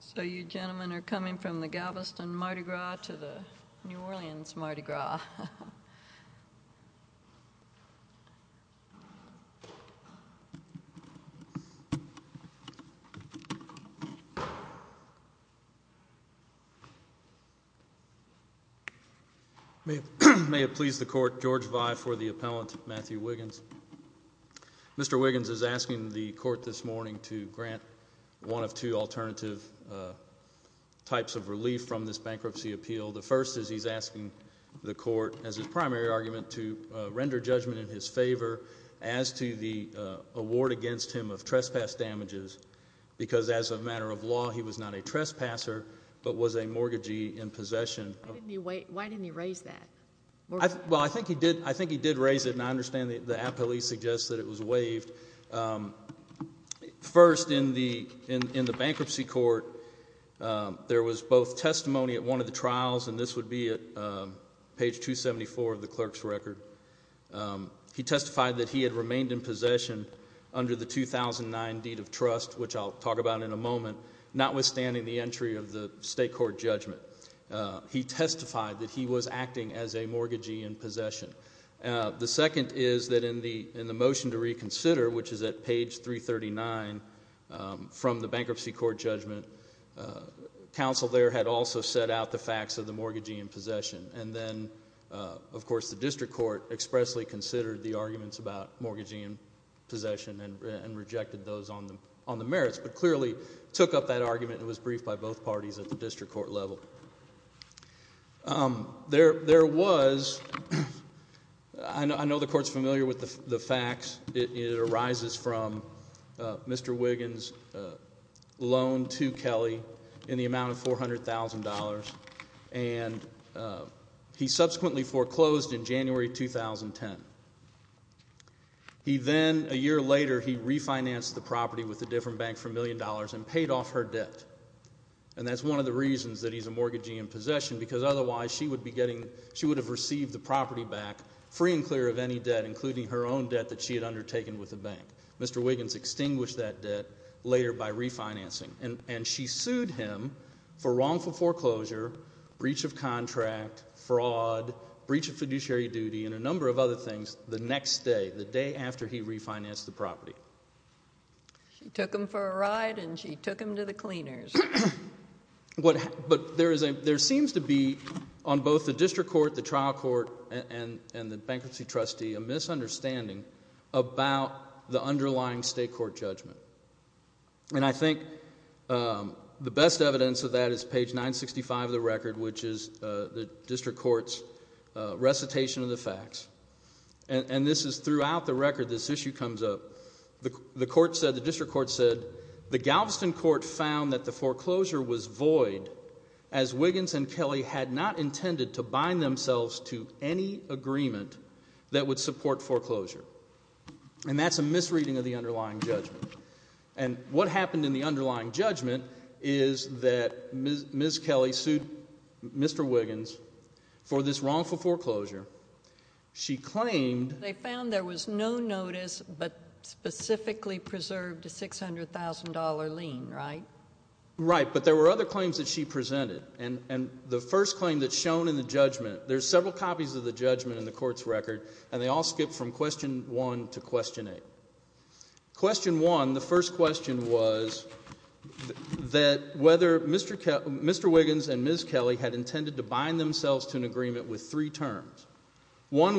So you gentlemen are coming from the Galveston Mardi Gras to the New Orleans Mardi Gras. May it please the court, George Vye for the appellant, Matthew Wiggins. Mr. Wiggins is asking the court this morning to grant one of two alternative types of relief from this bankruptcy appeal. The first is he's asking the court, as his primary argument, to render judgment in his favor as to the award against him of trespass damages, because as a matter of law, he was not a trespasser, but was a mortgagee in possession. Why didn't he raise that? Well, I think he did raise it, and I understand the appellee suggests that it was waived. First, in the bankruptcy court, there was both testimony at one of the trials, and this would be at page 274 of the clerk's record. He testified that he had remained in possession under the 2009 deed of trust, which I'll talk about in a moment, notwithstanding the entry of the state court judgment. He testified that he was acting as a mortgagee in possession. The second is that in the motion to reconsider, which is at page 339 from the bankruptcy court judgment, counsel there had also set out the facts of the mortgagee in possession, and then, of course, the district court expressly considered the arguments about mortgagee in possession and rejected those on the merits, but clearly took up that argument and was briefed by both parties at the district court level. There was, I know the court's familiar with the facts, it arises from Mr. Wiggins' loan to Kelly in the amount of $400,000, and he subsequently foreclosed in January 2010. He then, a year later, he refinanced the property with a different bank for $1 million and paid off her debt, and that's one of the reasons that he's a mortgagee in possession, because otherwise she would have received the property back free and clear of any debt, including her own debt that she had undertaken with the bank. Mr. Wiggins extinguished that debt later by refinancing, and she sued him for wrongful foreclosure, breach of contract, fraud, breach of fiduciary duty, and a number of other things the next day, the day after he refinanced the property. She took him for a ride, and she took him to the cleaners. But there seems to be, on both the district court, the trial court, and the bankruptcy trustee, a misunderstanding about the underlying state court judgment, and I think the best evidence of that is page 965 of the record, which is the district court's recitation of facts, and this is throughout the record, this issue comes up. The court said, the district court said, the Galveston court found that the foreclosure was void as Wiggins and Kelly had not intended to bind themselves to any agreement that would support foreclosure, and that's a misreading of the underlying judgment. And what happened in the underlying judgment is that Ms. Kelly sued Mr. Wiggins for this She claimed They found there was no notice, but specifically preserved a $600,000 lien, right? Right, but there were other claims that she presented, and the first claim that's shown in the judgment, there's several copies of the judgment in the court's record, and they all skip from question 1 to question 8. Question 1, the first question was that whether Mr. Wiggins and Ms. Kelly had intended to One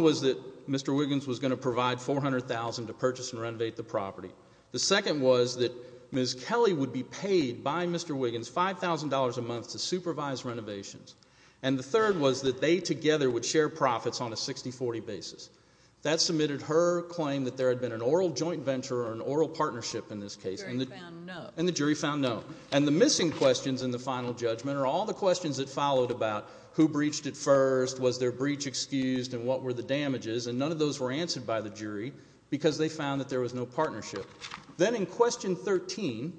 was that Mr. Wiggins was going to provide $400,000 to purchase and renovate the property. The second was that Ms. Kelly would be paid by Mr. Wiggins $5,000 a month to supervise renovations, and the third was that they together would share profits on a 60-40 basis. That submitted her claim that there had been an oral joint venture or an oral partnership in this case, and the jury found no. And the missing questions in the final judgment are all the questions that followed about who breached it first, was their breach excused, and what were the damages, and none of those were answered by the jury because they found that there was no partnership. Then in question 13,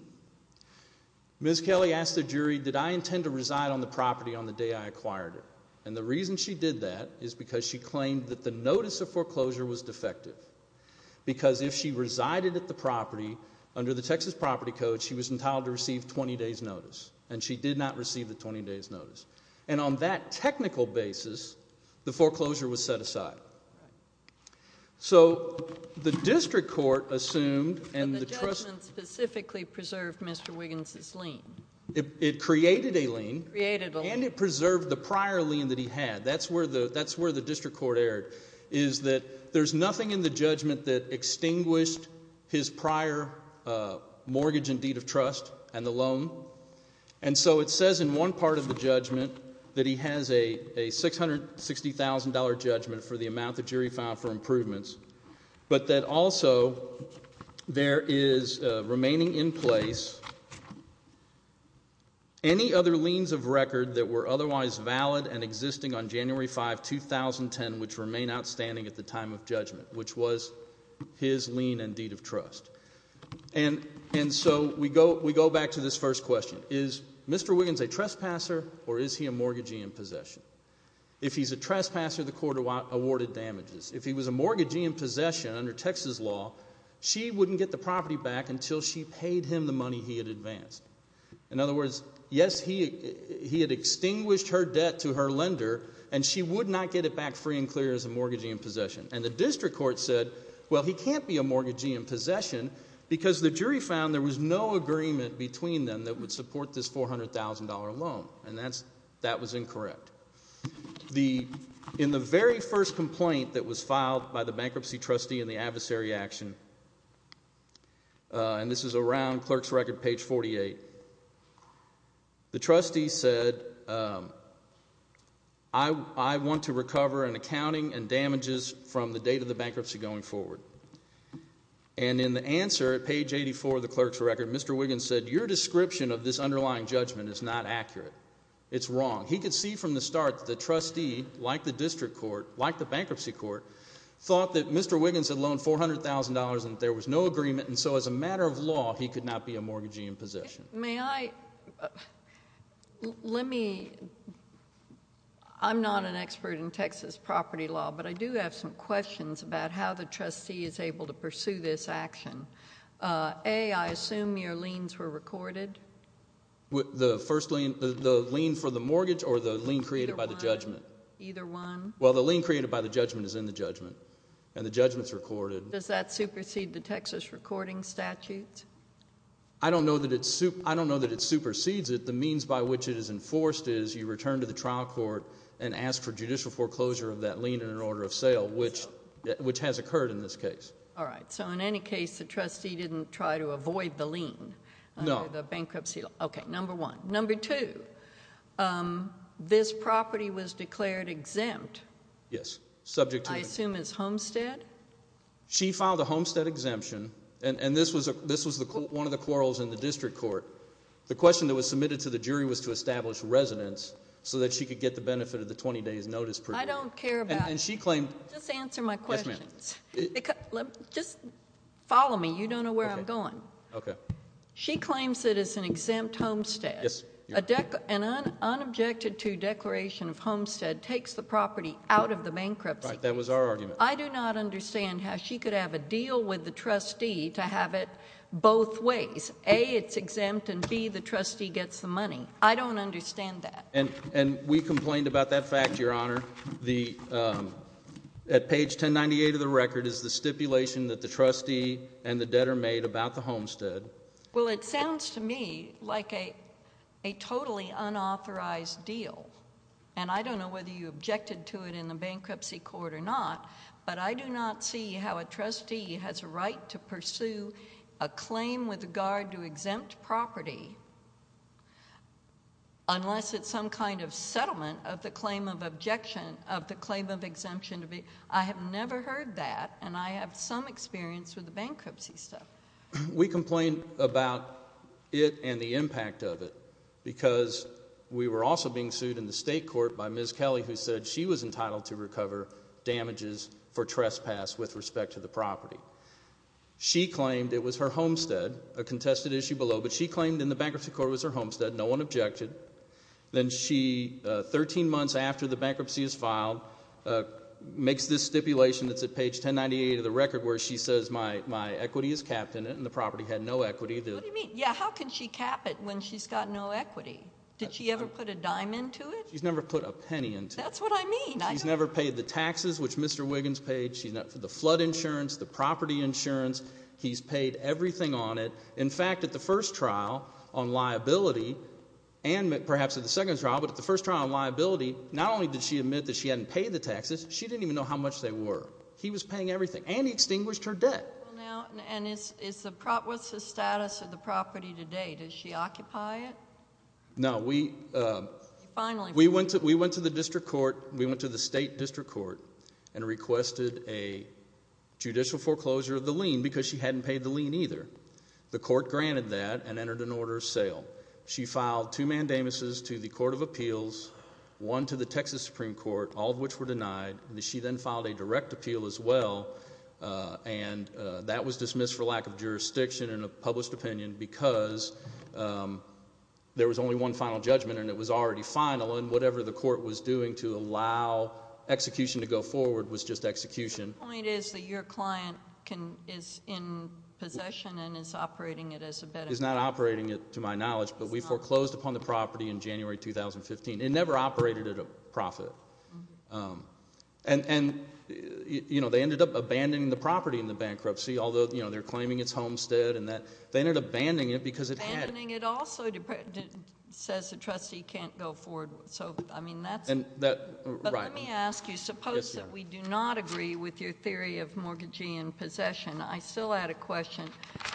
Ms. Kelly asked the jury, did I intend to reside on the property on the day I acquired it? And the reason she did that is because she claimed that the notice of foreclosure was defective, because if she resided at the property under the Texas property code, she was entitled to receive 20 days' notice, and she did not receive the 20 days' notice. And on that technical basis, the foreclosure was set aside. So the district court assumed, and the trust— But the judgment specifically preserved Mr. Wiggins' lien. It created a lien. It created a lien. And it preserved the prior lien that he had. That's where the district court erred, is that there's nothing in the judgment that extinguished his prior mortgage and deed of trust and the loan, and so it says in one part of the judgment that he has a $660,000 judgment for the amount the jury found for improvements, but that also there is remaining in place any other liens of record that were otherwise valid and existing on January 5, 2010, which remain outstanding at the time of judgment, which was his lien and deed of trust. And so we go back to this first question. Is Mr. Wiggins a trespasser, or is he a mortgagee in possession? If he's a trespasser, the court awarded damages. If he was a mortgagee in possession under Texas law, she wouldn't get the property back until she paid him the money he had advanced. In other words, yes, he had extinguished her debt to her lender, and she would not get it back free and clear as a mortgagee in possession. And the district court said, well, he can't be a mortgagee in possession because the jury found there was no agreement between them that would support this $400,000 loan, and that was incorrect. In the very first complaint that was filed by the bankruptcy trustee in the adversary action, and this is around clerk's record, page 48, the trustee said, I want to recover an accounting and damages from the date of the bankruptcy going forward. And in the answer at page 84 of the clerk's record, Mr. Wiggins said, your description of this underlying judgment is not accurate. It's wrong. He could see from the start that the trustee, like the district court, like the bankruptcy court, thought that Mr. Wiggins had loaned $400,000 and that there was no agreement, and so as a matter of law, he could not be a mortgagee in possession. May I, let me, I'm not an expert in Texas property law, but I do have some questions about how the trustee is able to pursue this action. A, I assume your liens were recorded? The first lien, the lien for the mortgage or the lien created by the judgment? Either one. Well, the lien created by the judgment is in the judgment, and the judgment's recorded. Does that supersede the Texas recording statutes? I don't know that it, I don't know that it supersedes it. The means by which it is enforced is you return to the trial court and ask for judicial foreclosure of that lien in an order of sale, which has occurred in this case. All right. So in any case, the trustee didn't try to avoid the lien under the bankruptcy law. No. Okay. Number one. Number two, this property was declared exempt. Yes. Subject to what? I assume as homestead? She filed a homestead exemption, and this was one of the quarrels in the district court. The question that was submitted to the jury was to establish residence so that she could get the benefit of the 20 days notice period. I don't care about... And she claimed... Just answer my questions. Yes, ma'am. Just follow me. You don't know where I'm going. Okay. She claims it is an exempt homestead. Yes. An unobjected to declaration of homestead takes the property out of the bankruptcy case. Right. That was our argument. I do not understand how she could have a deal with the trustee to have it both ways. A, it's exempt, and B, the trustee gets the money. I don't understand that. We complained about that fact, Your Honor. At page 1098 of the record is the stipulation that the trustee and the debtor made about the homestead. Well, it sounds to me like a totally unauthorized deal. I don't know whether you objected to it in the bankruptcy court or not, but I do not see how a trustee has a right to pursue a claim with regard to exempt property unless it's some kind of settlement of the claim of objection of the claim of exemption. I have never heard that, and I have some experience with the bankruptcy stuff. We complained about it and the impact of it because we were also being sued in the state court by Ms. Kelly who said she was entitled to recover damages for trespass with respect to the property. She claimed it was her homestead, a contested issue below, but she claimed in the bankruptcy court it was her homestead. No one objected. Then she, 13 months after the bankruptcy is filed, makes this stipulation that's at page 1098 of the record where she says my equity is capped in it, and the property had no equity. What do you mean? Yeah, how can she cap it when she's got no equity? Did she ever put a dime into it? She's never put a penny into it. That's what I mean. She's never paid the taxes which Mr. Wiggins paid, the flood insurance, the property insurance. He's paid everything on it. In fact, at the first trial on liability, and perhaps at the second trial, but at the first trial on liability, not only did she admit that she hadn't paid the taxes, she didn't even know how much they were. He was paying everything, and he extinguished her debt. What's the status of the property today? Does she occupy it? No, we went to the district court, we went to the state district court, and requested a judicial foreclosure of the lien because she hadn't paid the lien either. The court granted that and entered an order of sale. She filed two mandamuses to the court of appeals, one to the Texas Supreme Court, all of which were denied. She then filed a direct appeal as well, and that was dismissed for lack of jurisdiction and a published opinion because there was only one final judgment, and it was already executed. The point is that your client is in possession and is operating it as a bed and breakfast. Is not operating it, to my knowledge, but we foreclosed upon the property in January 2015. It never operated at a profit. They ended up abandoning the property in the bankruptcy, although they're claiming it's homestead and that. They ended up abandoning it because it had... Abandoning it also says the trustee can't go forward with, so I mean that's... Right. Let me ask you, suppose that we do not agree with your theory of mortgagee in possession. I still had a question.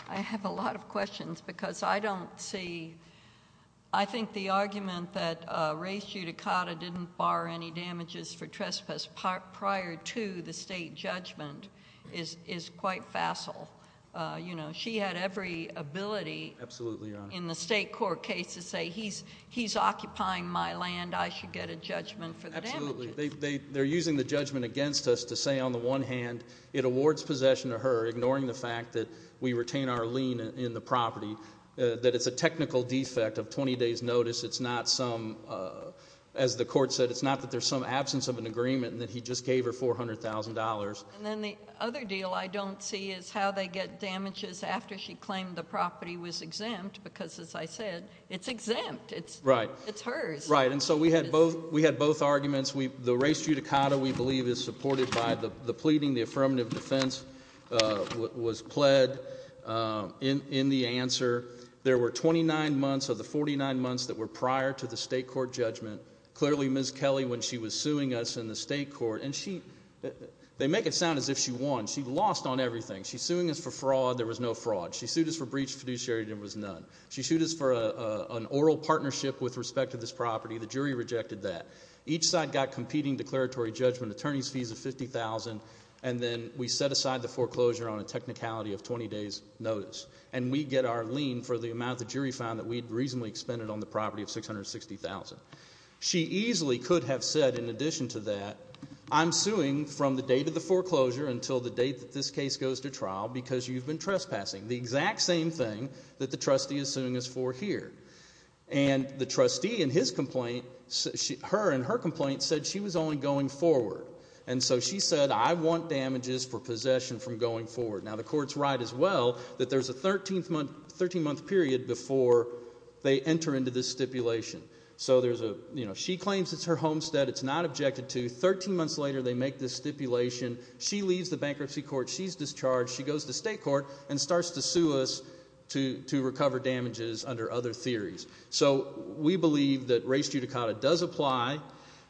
I have a lot of questions because I don't see... I think the argument that Ray Ciuticata didn't bar any damages for trespass prior to the state judgment is quite facile. She had every ability in the state court case to say, he's occupying my land. I should get a judgment for the damages. Absolutely. They're using the judgment against us to say, on the one hand, it awards possession to her, ignoring the fact that we retain our lien in the property, that it's a technical defect of 20 days notice. It's not some, as the court said, it's not that there's some absence of an agreement and that he just gave her $400,000. Then the other deal I don't see is how they get damages after she claimed the property was exempt because, as I said, it's exempt. It's hers. Right. Right. Right. We had both arguments. The Ray Ciuticata, we believe, is supported by the pleading. The affirmative defense was pled in the answer. There were 29 months of the 49 months that were prior to the state court judgment. Clearly, Ms. Kelly, when she was suing us in the state court... They make it sound as if she won. She lost on everything. She's suing us for fraud. There was no fraud. She sued us for breach of fiduciary and there was none. She sued us for an oral partnership with respect to this property. The jury rejected that. Each side got competing declaratory judgment attorneys fees of $50,000 and then we set aside the foreclosure on a technicality of 20 days notice. We get our lien for the amount the jury found that we'd reasonably expended on the property of $660,000. She easily could have said, in addition to that, I'm suing from the date of the foreclosure until the date that this case goes to trial because you've been trespassing. The exact same thing that the trustee is suing us for here. The trustee in her complaint said she was only going forward. She said, I want damages for possession from going forward. The court's right as well that there's a 13-month period before they enter into this stipulation. She claims it's her homestead. It's not objected to. 13 months later, they make this stipulation. She leaves the bankruptcy court. She's discharged. She goes to state court and starts to sue us to recover damages under other theories. So we believe that race judicata does apply.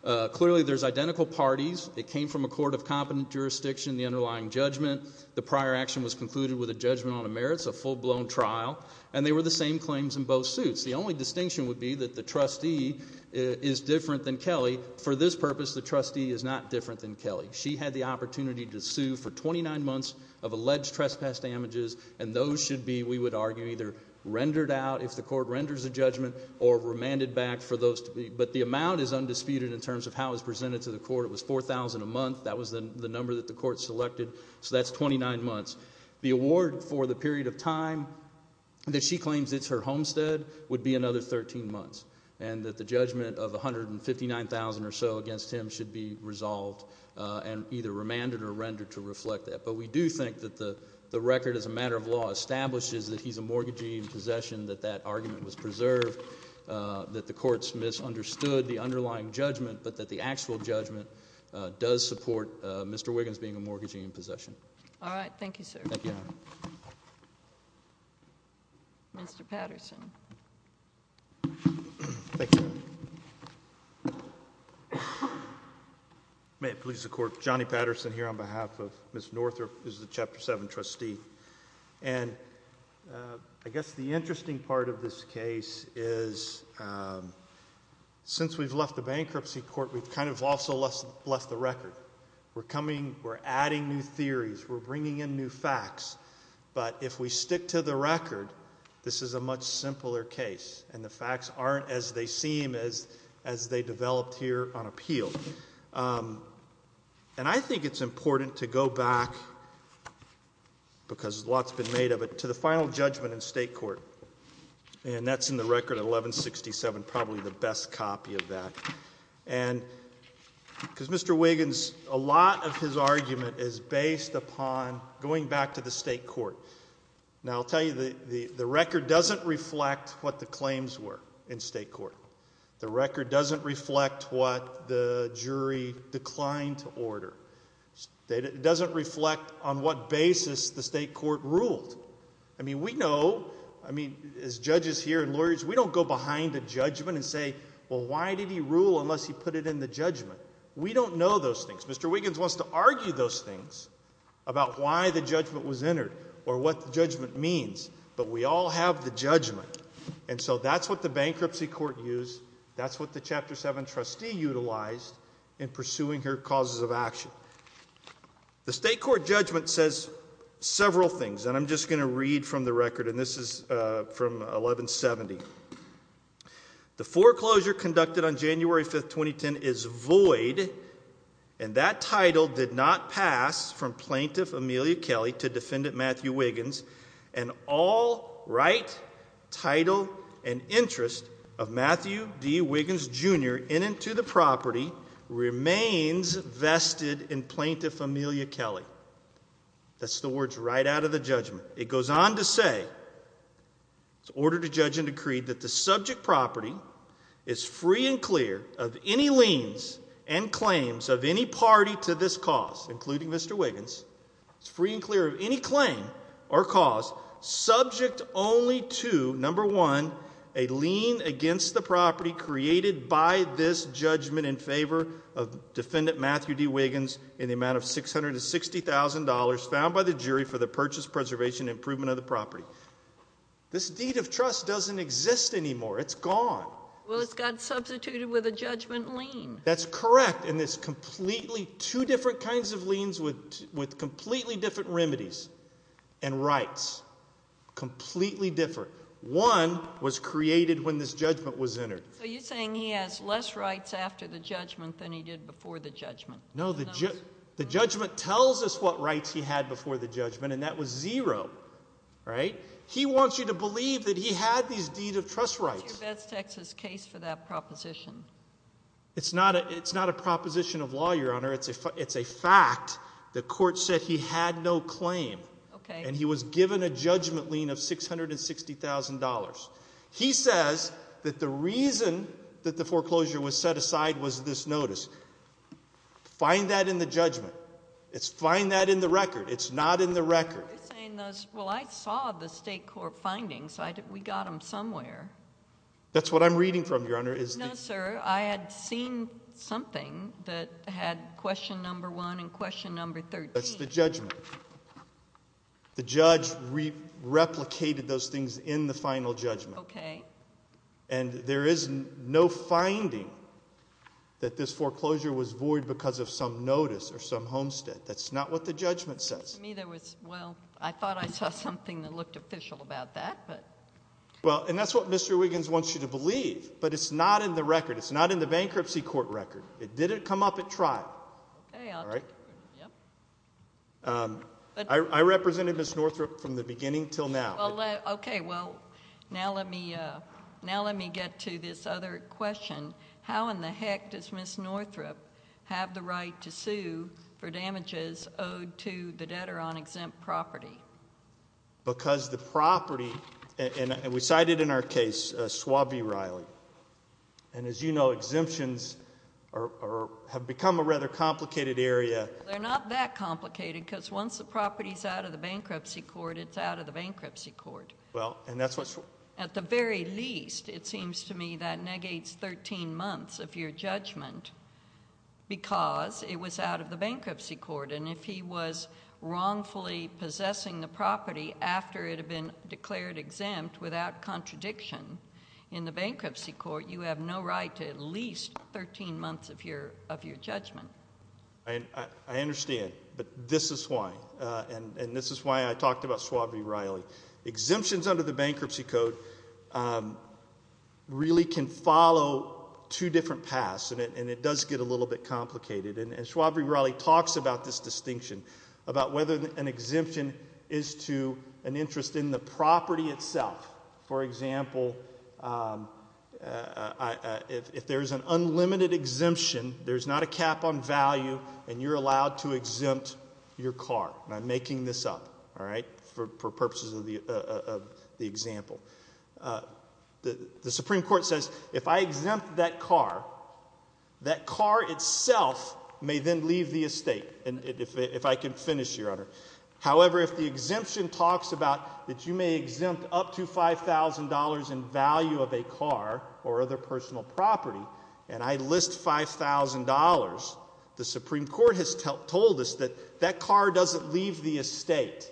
Clearly there's identical parties. It came from a court of competent jurisdiction, the underlying judgment. The prior action was concluded with a judgment on the merits, a full-blown trial. And they were the same claims in both suits. The only distinction would be that the trustee is different than Kelly. For this purpose, the trustee is not different than Kelly. She had the opportunity to sue for 29 months of alleged trespass damages. And those should be, we would argue, either rendered out if the court renders a judgment or remanded back for those. But the amount is undisputed in terms of how it was presented to the court. It was $4,000 a month. That was the number that the court selected. So that's 29 months. The award for the period of time that she claims it's her homestead would be another 13 months. And that the judgment of $159,000 or so against him should be resolved and either remanded or rendered to reflect that. But we do think that the record as a matter of law establishes that he's a mortgagee in possession, that that argument was preserved, that the courts misunderstood the underlying judgment, but that the actual judgment does support Mr. Wiggins being a mortgagee in possession. All right. Thank you, sir. Thank you. Mr. Patterson. May it please the court, Johnny Patterson here on behalf of Ms. Northrup, who's the Chapter 7 trustee. And I guess the interesting part of this case is since we've left the bankruptcy court, we've kind of also left the record. We're coming, we're adding new theories, we're bringing in new facts. But if we stick to the record, this is a much simpler case. And the facts aren't as they seem as they developed here on appeal. And I think it's important to go back, because a lot's been made of it, to the final judgment in state court. And that's in the record at 1167, probably the best copy of that. And because Mr. Wiggins, a lot of his argument is based upon going back to the state court. Now I'll tell you, the record doesn't reflect what the claims were in state court. The record doesn't reflect what the jury declined to order. It doesn't reflect on what basis the state court ruled. I mean, we know, I mean, as judges here and lawyers, we don't go behind a judgment and say, well, why did he rule unless he put it in the judgment? We don't know those things. Mr. Wiggins wants to argue those things about why the judgment was entered or what the judgment means. But we all have the judgment. And so that's what the bankruptcy court used. That's what the Chapter 7 trustee utilized in pursuing her causes of action. The state court judgment says several things, and I'm just going to read from the record, and this is from 1170. The foreclosure conducted on January 5th, 2010 is void, and that title did not pass from Plaintiff Amelia Kelly to Defendant Matthew Wiggins, and all right, title, and interest of Matthew D. Wiggins, Jr. in and to the property remains vested in Plaintiff Amelia Kelly. That's the words right out of the judgment. It goes on to say, it's ordered to judge and decreed that the subject property is free and clear of any liens and claims of any party to this cause, including Mr. Wiggins, is free and clear of any claim or cause subject only to, number one, a lien against the property created by this judgment in favor of Defendant Matthew D. Wiggins in the amount of $660,000 found by the jury for the purchase, preservation, and improvement of the property. This deed of trust doesn't exist anymore. It's gone. Well, it's got substituted with a judgment lien. That's correct, and it's completely two different kinds of liens with completely different remedies and rights, completely different. One was created when this judgment was entered. So you're saying he has less rights after the judgment than he did before the judgment? No, the judgment tells us what rights he had before the judgment, and that was zero, right? He wants you to believe that he had these deed of trust rights. What's your Betz-Texas case for that proposition? It's not a proposition of law, Your Honor. It's a fact. The court said he had no claim, and he was given a judgment lien of $660,000. He says that the reason that the foreclosure was set aside was this notice. Find that in the judgment. Find that in the record. It's not in the record. You're saying, well, I saw the state court findings. We got them somewhere. That's what I'm reading from, Your Honor. No, sir. I had seen something that had question number one and question number 13. That's the judgment. The judge replicated those things in the final judgment. Okay. And there is no finding that this foreclosure was void because of some notice or some homestead. That's not what the judgment says. To me, there was, well, I thought I saw something that looked official about that, but. Well, and that's what Mr. Wiggins wants you to believe, but it's not in the record. It's not in the bankruptcy court record. It didn't come up at trial. Okay. All right? All right. Yep. I represented Ms. Northrup from the beginning until now. Okay. Well, now let me get to this other question. How in the heck does Ms. Northrup have the right to sue for damages owed to the debtor on exempt property? Because the property, and we cited in our case Suave Riley. And as you know, exemptions have become a rather complicated area. They're not that complicated because once the property is out of the bankruptcy court, it's out of the bankruptcy court. Well, and that's what. At the very least, it seems to me that negates 13 months of your judgment because it was out of the bankruptcy court. And if he was wrongfully possessing the property after it had been declared exempt without contradiction in the bankruptcy court, you have no right to at least 13 months of your judgment. I understand, but this is why, and this is why I talked about Suave Riley. Exemptions under the bankruptcy code really can follow two different paths, and it does get a little bit complicated. And Suave Riley talks about this distinction, about whether an exemption is to an interest in the property itself. For example, if there's an unlimited exemption, there's not a cap on value, and you're allowed to exempt your car. And I'm making this up, all right, for purposes of the example. The Supreme Court says, if I exempt that car, that car itself may then leave the estate, if I can finish, Your Honor. However, if the exemption talks about that you may exempt up to $5,000 in value of a car or other personal property, and I list $5,000, the Supreme Court has told us that that car doesn't leave the estate.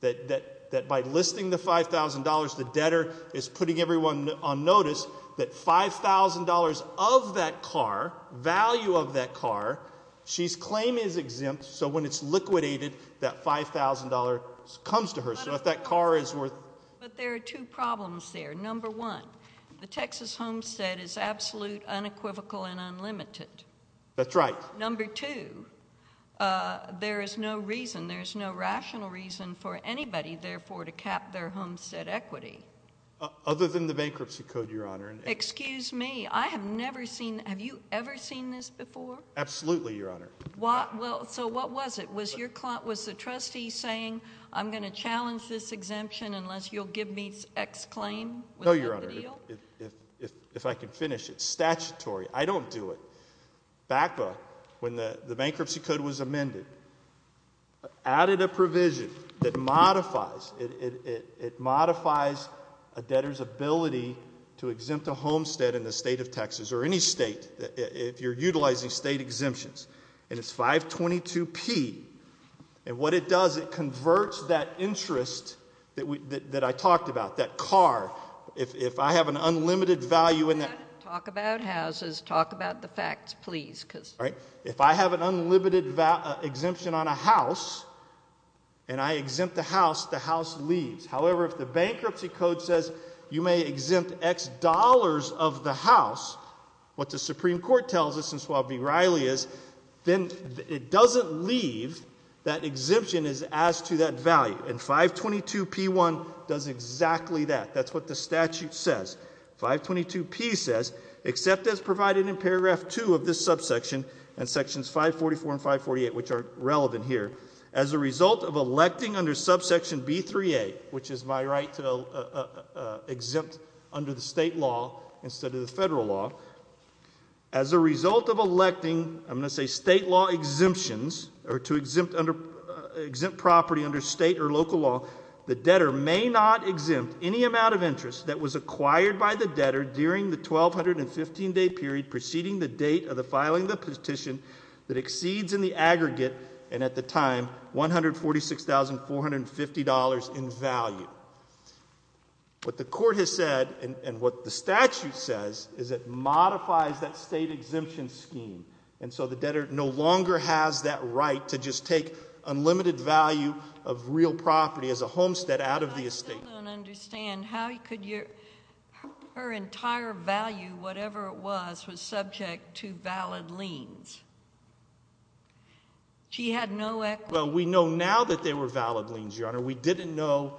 That by listing the $5,000, the debtor is putting everyone on notice that $5,000 of that car, value of that car, she's claim is exempt, so when it's liquidated, that $5,000 comes to her. So if that car is worth- But there are two problems there. Number one, the Texas homestead is absolute, unequivocal, and unlimited. That's right. Number two, there is no reason, there is no rational reason for anybody, therefore, to cap their homestead equity. Other than the bankruptcy code, Your Honor. Excuse me. I have never seen, have you ever seen this before? Absolutely, Your Honor. So what was it? Was the trustee saying, I'm going to challenge this exemption unless you'll give me X claim? No, Your Honor. If I can finish, it's statutory. I don't do it. BACA, when the bankruptcy code was amended, added a provision that modifies, it modifies a debtor's ability to exempt a homestead in the state of Texas or any state if you're utilizing state exemptions. And it's 522P. And what it does, it converts that interest that I talked about, that car. Talk about houses. Talk about the facts, please. All right. If I have an unlimited exemption on a house, and I exempt the house, the house leaves. However, if the bankruptcy code says you may exempt X dollars of the house, what the Supreme Court tells us in Swab v. Riley is, then it doesn't leave, that exemption is as to that value. And 522P1 does exactly that. That's what the statute says. 522P says, except as provided in paragraph 2 of this subsection and sections 544 and 548, which are relevant here, as a result of electing under subsection B3A, which is my right to exempt under the state law instead of the federal law, as a result of electing, I'm going to say state law exemptions, or to exempt property under state or local law, the debtor may not exempt any amount of interest that was acquired by the debtor during the 1,215-day period preceding the date of the filing of the petition that exceeds in the aggregate, and at the time, $146,450 in value. What the court has said, and what the statute says, is it modifies that state exemption scheme. And so the debtor no longer has that right to just take unlimited value of real property as a homestead out of the estate. I still don't understand how could your, her entire value, whatever it was, was subject to valid liens. She had no equity. Well, we know now that they were valid liens, Your Honor. We didn't know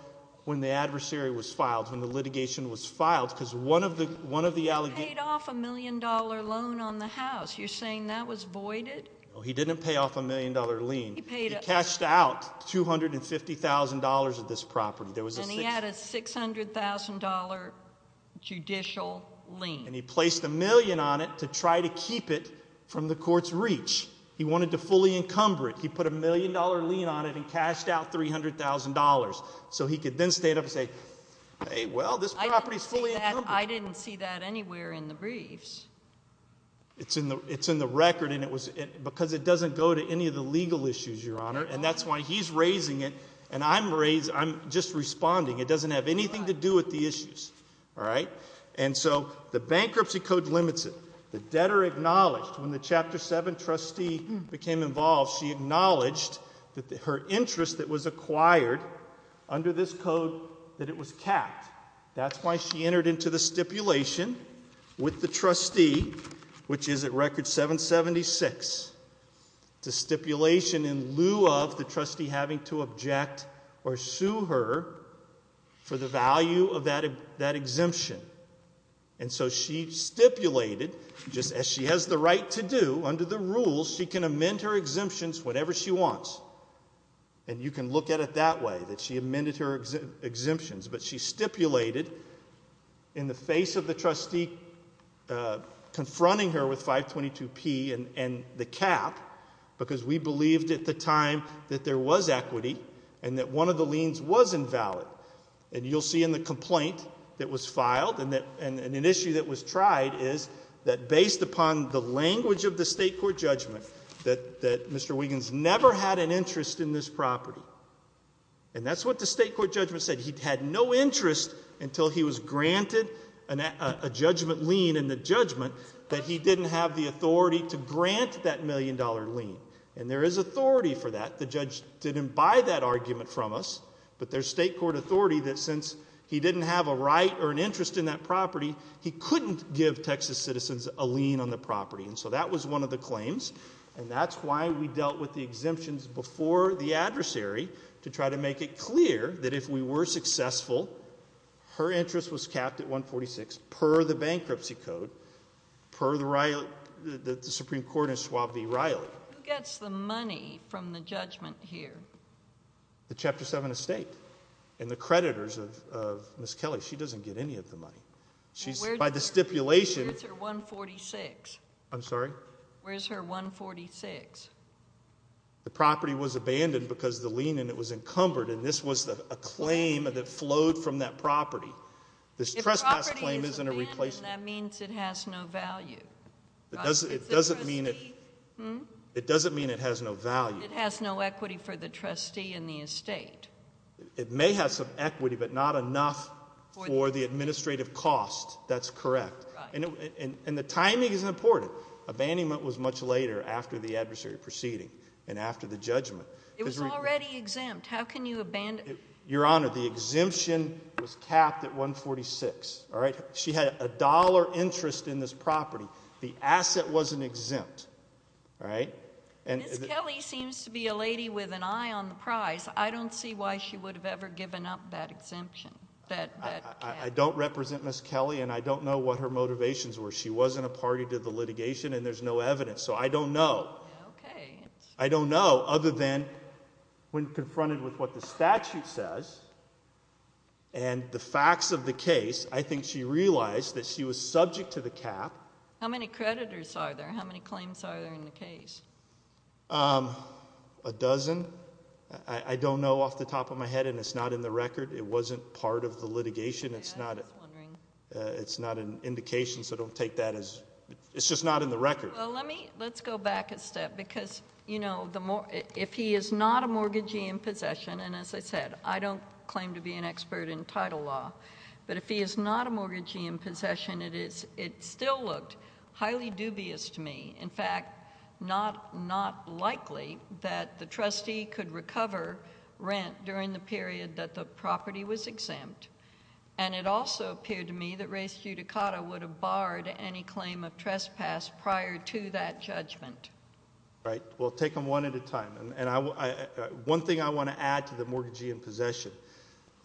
when the adversary was filed, when the litigation was filed, because one of the allegations He paid off a million-dollar loan on the house. You're saying that was voided? No, he didn't pay off a million-dollar lien. He cashed out $250,000 of this property. And he had a $600,000 judicial lien. And he placed a million on it to try to keep it from the court's reach. He wanted to fully encumber it. He put a million-dollar lien on it and cashed out $300,000. So he could then stand up and say, hey, well, this property is fully encumbered. I didn't see that anywhere in the briefs. It's in the record, because it doesn't go to any of the legal issues, Your Honor. And that's why he's raising it, and I'm just responding. It doesn't have anything to do with the issues. All right? And so the bankruptcy code limits it. The debtor acknowledged when the Chapter 7 trustee became involved, she acknowledged that her interest that was acquired under this code, that it was capped. That's why she entered into the stipulation with the trustee, which is at Record 776. It's a stipulation in lieu of the trustee having to object or sue her for the value of that exemption. And so she stipulated, just as she has the right to do under the rules, she can amend her exemptions whenever she wants. And you can look at it that way, that she amended her exemptions. But she stipulated in the face of the trustee confronting her with 522P and the cap, because we believed at the time that there was equity and that one of the liens was invalid. And you'll see in the complaint that was filed, and an issue that was tried, is that based upon the language of the state court judgment, that Mr. Wiggins never had an interest in this property. And that's what the state court judgment said. He had no interest until he was granted a judgment lien in the judgment that he didn't have the authority to grant that million-dollar lien. And there is authority for that. The judge didn't buy that argument from us. But there's state court authority that since he didn't have a right or an interest in that property, he couldn't give Texas citizens a lien on the property. And so that was one of the claims. And that's why we dealt with the exemptions before the adversary to try to make it clear that if we were successful, her interest was capped at 146 per the bankruptcy code, per the Supreme Court in Schwab v. Riley. Who gets the money from the judgment here? The Chapter 7 estate and the creditors of Ms. Kelly. She doesn't get any of the money. By the stipulation... Where's her 146? I'm sorry? Where's her 146? The property was abandoned because the lien in it was encumbered, and this was a claim that flowed from that property. If the property is abandoned, that means it has no value. It doesn't mean it has no value. It has no equity for the trustee and the estate. It may have some equity but not enough for the administrative cost. That's correct. And the timing is important. Abandonment was much later after the adversary proceeding and after the judgment. It was already exempt. How can you abandon it? Your Honor, the exemption was capped at 146. She had a dollar interest in this property. The asset wasn't exempt. Ms. Kelly seems to be a lady with an eye on the prize. I don't see why she would have ever given up that exemption. I don't represent Ms. Kelly, and I don't know what her motivations were. She wasn't a party to the litigation, and there's no evidence. So I don't know. I don't know other than when confronted with what the statute says and the facts of the case, I think she realized that she was subject to the cap. How many creditors are there? How many claims are there in the case? A dozen. I don't know off the top of my head, and it's not in the record. It wasn't part of the litigation. It's not an indication, so don't take that as it's just not in the record. Well, let's go back a step because, you know, if he is not a mortgagee in possession, and as I said, I don't claim to be an expert in title law, but if he is not a mortgagee in possession, it still looked highly dubious to me. In fact, not likely that the trustee could recover rent during the period that the property was exempt. And it also appeared to me that race judicata would have barred any claim of trespass prior to that judgment. Right. Well, take them one at a time. And one thing I want to add to the mortgagee in possession,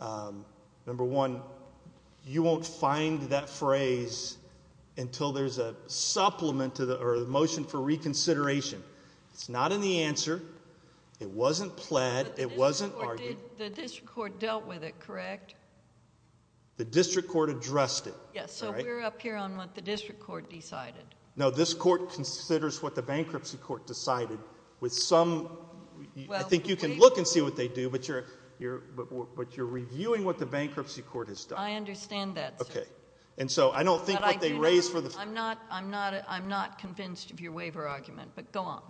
number one, you won't find that phrase until there's a supplement or a motion for reconsideration. It's not in the answer. It wasn't pled. It wasn't argued. The district court dealt with it, correct? The district court addressed it. Yes, so we're up here on what the district court decided. No, this court considers what the bankruptcy court decided with some ‑‑I think you can look and see what they do, but you're reviewing what the bankruptcy court has done. I understand that, sir. Okay. And so I don't think what they raised for the ‑‑ I'm not convinced of your waiver argument, but go on.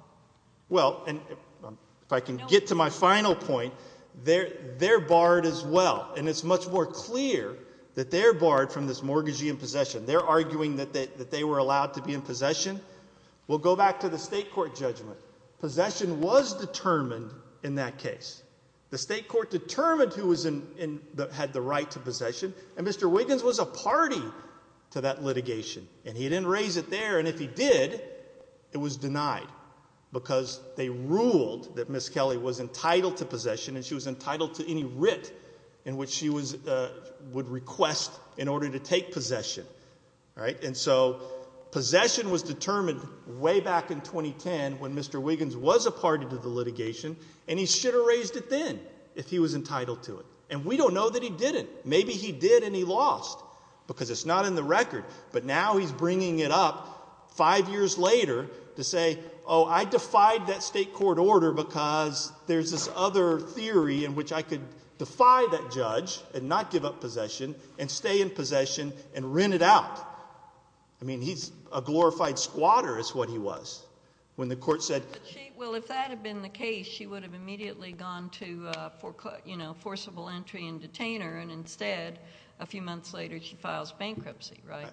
Well, if I can get to my final point, they're barred as well, and it's much more clear that they're barred from this mortgagee in possession. They're arguing that they were allowed to be in possession. We'll go back to the state court judgment. Possession was determined in that case. The state court determined who had the right to possession, and Mr. Wiggins was a party to that litigation, and he didn't raise it there, and if he did, it was denied, because they ruled that Ms. Kelly was entitled to possession, and she was entitled to any writ in which she would request in order to take possession. And so possession was determined way back in 2010 when Mr. Wiggins was a party to the litigation, and he should have raised it then if he was entitled to it, and we don't know that he didn't. Maybe he did and he lost because it's not in the record, but now he's bringing it up five years later to say, oh, I defied that state court order because there's this other theory in which I could defy that judge and not give up possession and stay in possession and rent it out. I mean, he's a glorified squatter is what he was when the court said ‑‑ Well, if that had been the case, she would have immediately gone to forcible entry and detain her, and instead a few months later she files bankruptcy, right?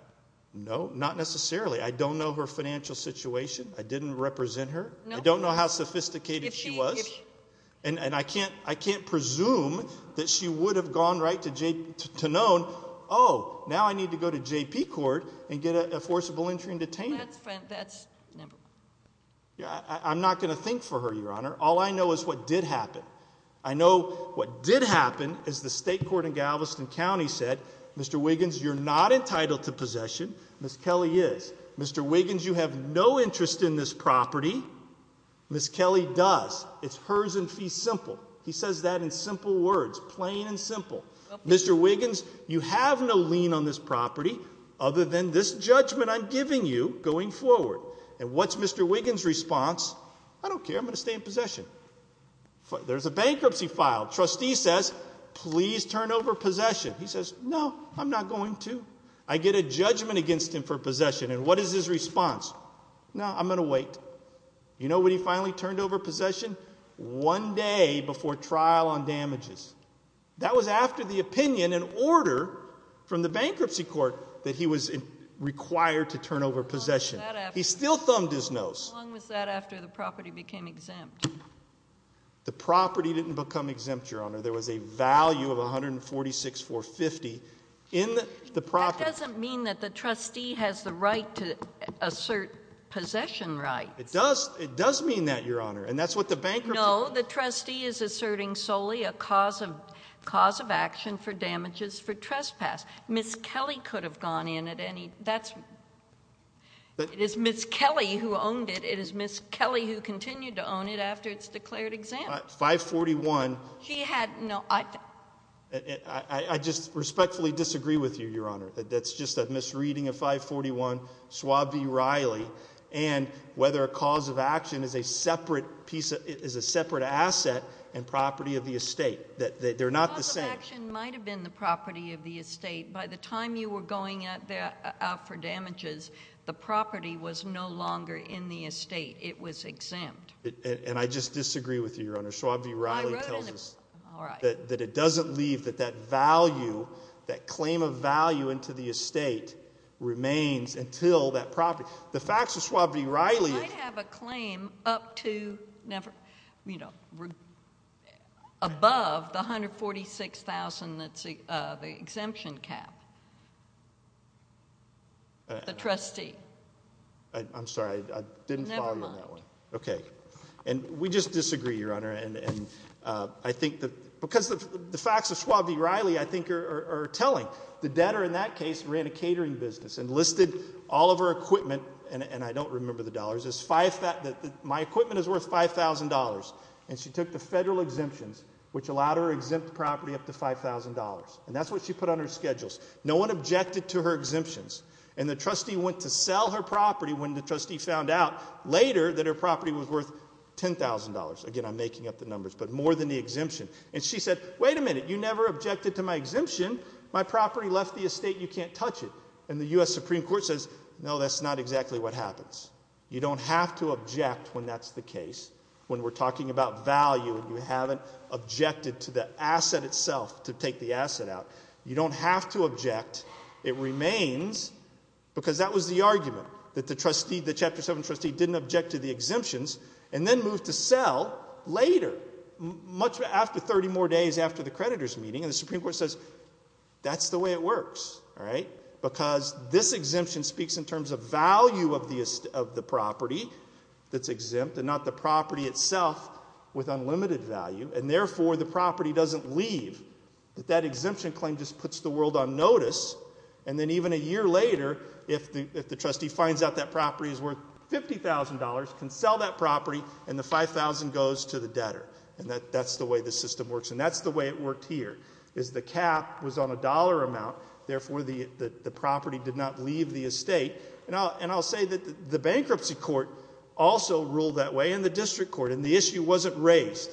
No, not necessarily. I don't know her financial situation. I didn't represent her. I don't know how sophisticated she was, and I can't presume that she would have gone right to known, oh, now I need to go to JP court and get a forcible entry and detain her. That's number one. I'm not going to think for her, Your Honor. All I know is what did happen. I know what did happen is the state court in Galveston County said, Mr. Wiggins, you're not entitled to possession. Ms. Kelly is. Mr. Wiggins, you have no interest in this property. Ms. Kelly does. It's hers in fee simple. He says that in simple words, plain and simple. Mr. Wiggins, you have no lien on this property other than this judgment I'm giving you. Going forward. And what's Mr. Wiggins' response? I don't care. I'm going to stay in possession. There's a bankruptcy file. Trustee says, please turn over possession. He says, no, I'm not going to. I get a judgment against him for possession. And what is his response? No, I'm going to wait. You know when he finally turned over possession? One day before trial on damages. That was after the opinion and order from the bankruptcy court that he was required to turn over possession. He still thumbed his nose. How long was that after the property became exempt? The property didn't become exempt, Your Honor. There was a value of $146,450 in the property. That doesn't mean that the trustee has the right to assert possession rights. It does. It does mean that, Your Honor. And that's what the bankruptcy. No, the trustee is asserting solely a cause of action for damages for trespass. Ms. Kelly could have gone in at any. That's. It is Ms. Kelly who owned it. It is Ms. Kelly who continued to own it after it's declared exempt. 541. She had. No. I just respectfully disagree with you, Your Honor. That's just a misreading of 541. Schwab v. Reilly. And whether a cause of action is a separate asset and property of the estate. They're not the same. The cause of action might have been the property of the estate. By the time you were going out for damages, the property was no longer in the estate. It was exempt. And I just disagree with you, Your Honor. Schwab v. Reilly tells us. All right. That it doesn't leave that that value, that claim of value into the estate remains until that property. The facts of Schwab v. Reilly. I have a claim up to, you know, above the 146,000 that's the exemption cap. The trustee. I'm sorry. I didn't follow you on that one. Never mind. Okay. And we just disagree, Your Honor. And I think that because the facts of Schwab v. Reilly I think are telling. The debtor in that case ran a catering business and listed all of her equipment. And I don't remember the dollars. My equipment is worth $5,000. And she took the federal exemptions which allowed her to exempt the property up to $5,000. And that's what she put on her schedules. No one objected to her exemptions. And the trustee went to sell her property when the trustee found out later that her property was worth $10,000. Again, I'm making up the numbers. But more than the exemption. And she said, Wait a minute. You never objected to my exemption. My property left the estate. You can't touch it. And the U.S. Supreme Court says, No, that's not exactly what happens. You don't have to object when that's the case. When we're talking about value and you haven't objected to the asset itself to take the asset out. You don't have to object. It remains because that was the argument. That the trustee, the Chapter 7 trustee, didn't object to the exemptions and then moved to sell later. Much after 30 more days after the creditors meeting. And the Supreme Court says, That's the way it works. Because this exemption speaks in terms of value of the property that's exempt and not the property itself with unlimited value. And therefore, the property doesn't leave. That that exemption claim just puts the world on notice. And then even a year later, if the trustee finds out that property is worth $50,000, can sell that property. And the $5,000 goes to the debtor. And that's the way the system works. And that's the way it worked here. Is the cap was on a dollar amount. Therefore, the property did not leave the estate. And I'll say that the bankruptcy court also ruled that way. And the district court. And the issue wasn't raised.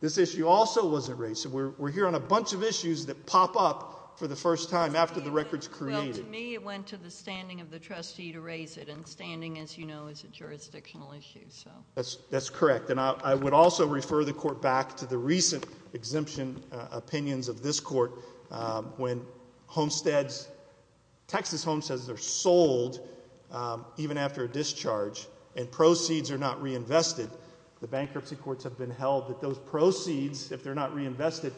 This issue also wasn't raised. We're here on a bunch of issues that pop up for the first time after the record's created. To me, it went to the standing of the trustee to raise it. And standing, as you know, is a jurisdictional issue. That's correct. And I would also refer the court back to the recent exemption opinions of this court. When homesteads, Texas homesteads are sold even after a discharge. And proceeds are not reinvested. The bankruptcy courts have been held that those proceeds, if they're not reinvested,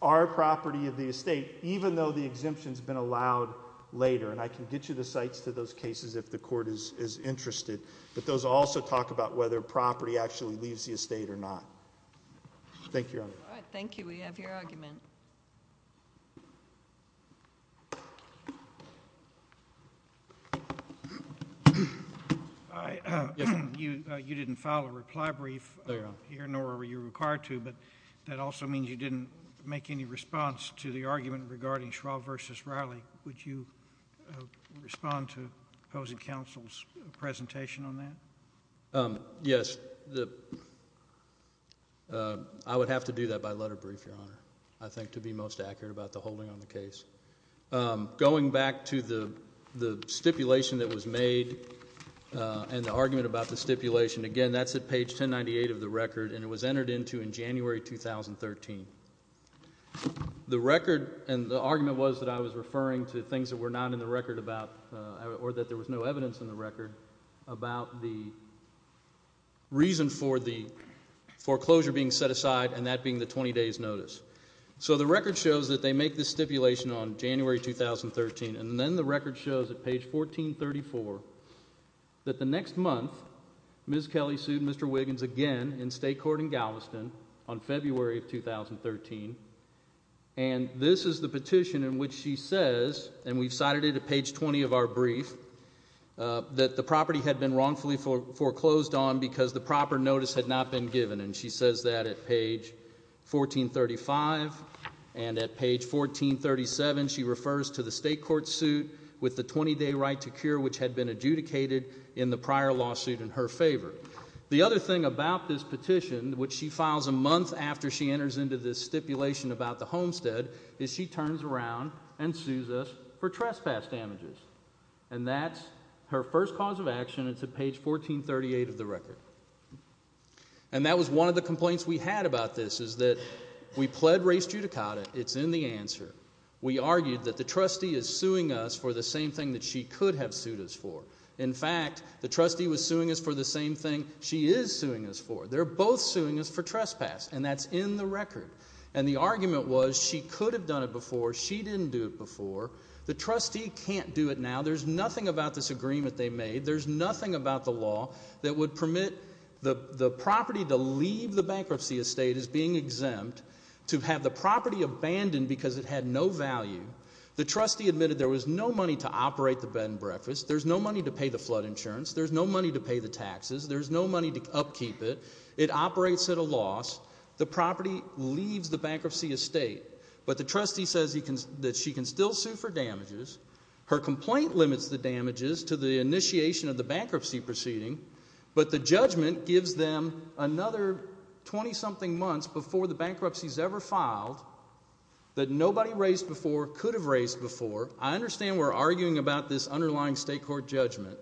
are property of the estate. Even though the exemption's been allowed later. And I can get you the sites to those cases if the court is interested. But those also talk about whether property actually leaves the estate or not. Thank you, Your Honor. All right, thank you. We have your argument. You didn't file a reply brief here, nor were you required to. But that also means you didn't make any response to the argument regarding Schwab v. Riley. Would you respond to opposing counsel's presentation on that? Yes. I would have to do that by letter brief, Your Honor, I think, to be most accurate about the holding on the case. Going back to the stipulation that was made and the argument about the stipulation, again, that's at page 1098 of the record. And it was entered into in January 2013. The record and the argument was that I was referring to things that were not in the record about or that there was no evidence in the record about the reason for the foreclosure being set aside and that being the 20 days notice. So the record shows that they make this stipulation on January 2013. And then the record shows at page 1434 that the next month Ms. Kelly sued Mr. Wiggins again in state court in Galveston on February of 2013. And this is the petition in which she says, and we've cited it at page 20 of our brief, that the property had been wrongfully foreclosed on because the proper notice had not been given. And she says that at page 1435. And at page 1437 she refers to the state court suit with the 20-day right to cure, which had been adjudicated in the prior lawsuit in her favor. The other thing about this petition, which she files a month after she enters into this stipulation about the homestead, is she turns around and sues us for trespass damages. And that's her first cause of action. It's at page 1438 of the record. And that was one of the complaints we had about this is that we pled race judicata. It's in the answer. We argued that the trustee is suing us for the same thing that she could have sued us for. In fact, the trustee was suing us for the same thing she is suing us for. They're both suing us for trespass, and that's in the record. And the argument was she could have done it before. She didn't do it before. The trustee can't do it now. There's nothing about this agreement they made. There's nothing about the law that would permit the property to leave the bankruptcy estate as being exempt, to have the property abandoned because it had no value. The trustee admitted there was no money to operate the bed and breakfast. There's no money to pay the flood insurance. There's no money to pay the taxes. There's no money to upkeep it. It operates at a loss. The property leaves the bankruptcy estate, but the trustee says that she can still sue for damages. Her complaint limits the damages to the initiation of the bankruptcy proceeding, but the judgment gives them another 20-something months before the bankruptcy is ever filed that nobody raised before, could have raised before. I understand we're arguing about this underlying state court judgment,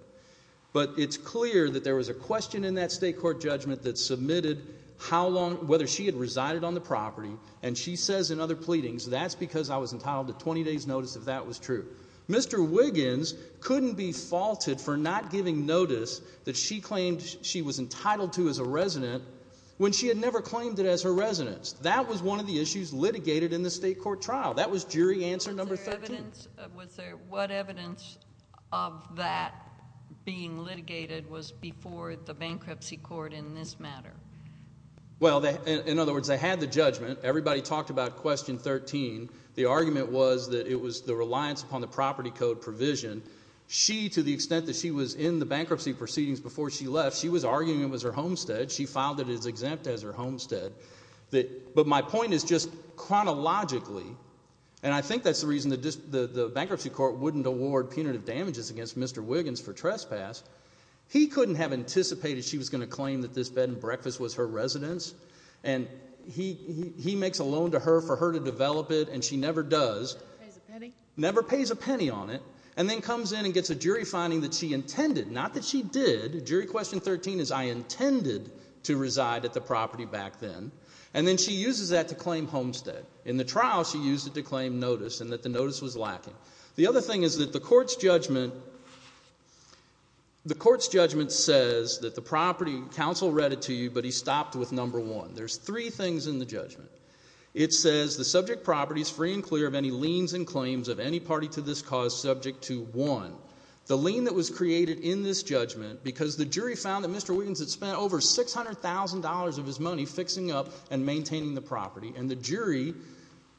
but it's clear that there was a question in that state court judgment that submitted whether she had resided on the property, and she says in other pleadings that's because I was entitled to 20 days' notice if that was true. Mr. Wiggins couldn't be faulted for not giving notice that she claimed she was entitled to as a resident when she had never claimed it as her residence. That was one of the issues litigated in the state court trial. That was jury answer number 13. Was there what evidence of that being litigated was before the bankruptcy court in this matter? Well, in other words, they had the judgment. Everybody talked about question 13. The argument was that it was the reliance upon the property code provision. She, to the extent that she was in the bankruptcy proceedings before she left, she was arguing it was her homestead. She filed it as exempt as her homestead. But my point is just chronologically, and I think that's the reason the bankruptcy court wouldn't award punitive damages against Mr. Wiggins for trespass. He couldn't have anticipated she was going to claim that this bed and breakfast was her residence, and he makes a loan to her for her to develop it, and she never does. Never pays a penny on it, and then comes in and gets a jury finding that she intended. Not that she did. Jury question 13 is I intended to reside at the property back then, and then she uses that to claim homestead. In the trial, she used it to claim notice and that the notice was lacking. The other thing is that the court's judgment says that the property counsel read it to you, but he stopped with number one. There's three things in the judgment. It says the subject property is free and clear of any liens and claims of any party to this cause subject to one. The lien that was created in this judgment because the jury found that Mr. Wiggins had spent over $600,000 of his money fixing up and maintaining the property, and the jury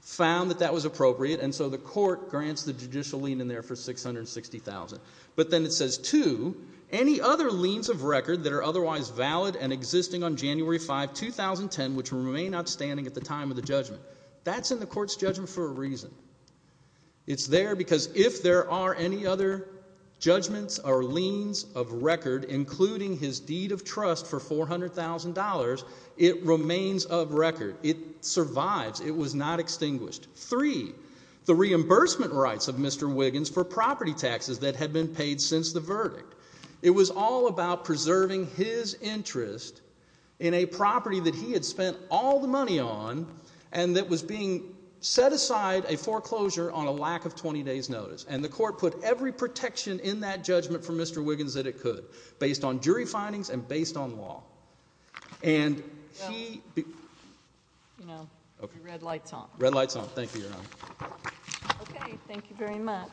found that that was appropriate, and so the court grants the judicial lien in there for $660,000. But then it says two, any other liens of record that are otherwise valid and existing on January 5, 2010, which remain outstanding at the time of the judgment. That's in the court's judgment for a reason. It's there because if there are any other judgments or liens of record, including his deed of trust for $400,000, it remains of record. It survives. It was not extinguished. Three, the reimbursement rights of Mr. Wiggins for property taxes that had been paid since the verdict. It was all about preserving his interest in a property that he had spent all the money on and that was being set aside, a foreclosure, on a lack of 20 days' notice. And the court put every protection in that judgment for Mr. Wiggins that it could, based on jury findings and based on law. And he— Well, you know, your red light's on. Red light's on. Thank you, Your Honor. Okay, thank you very much.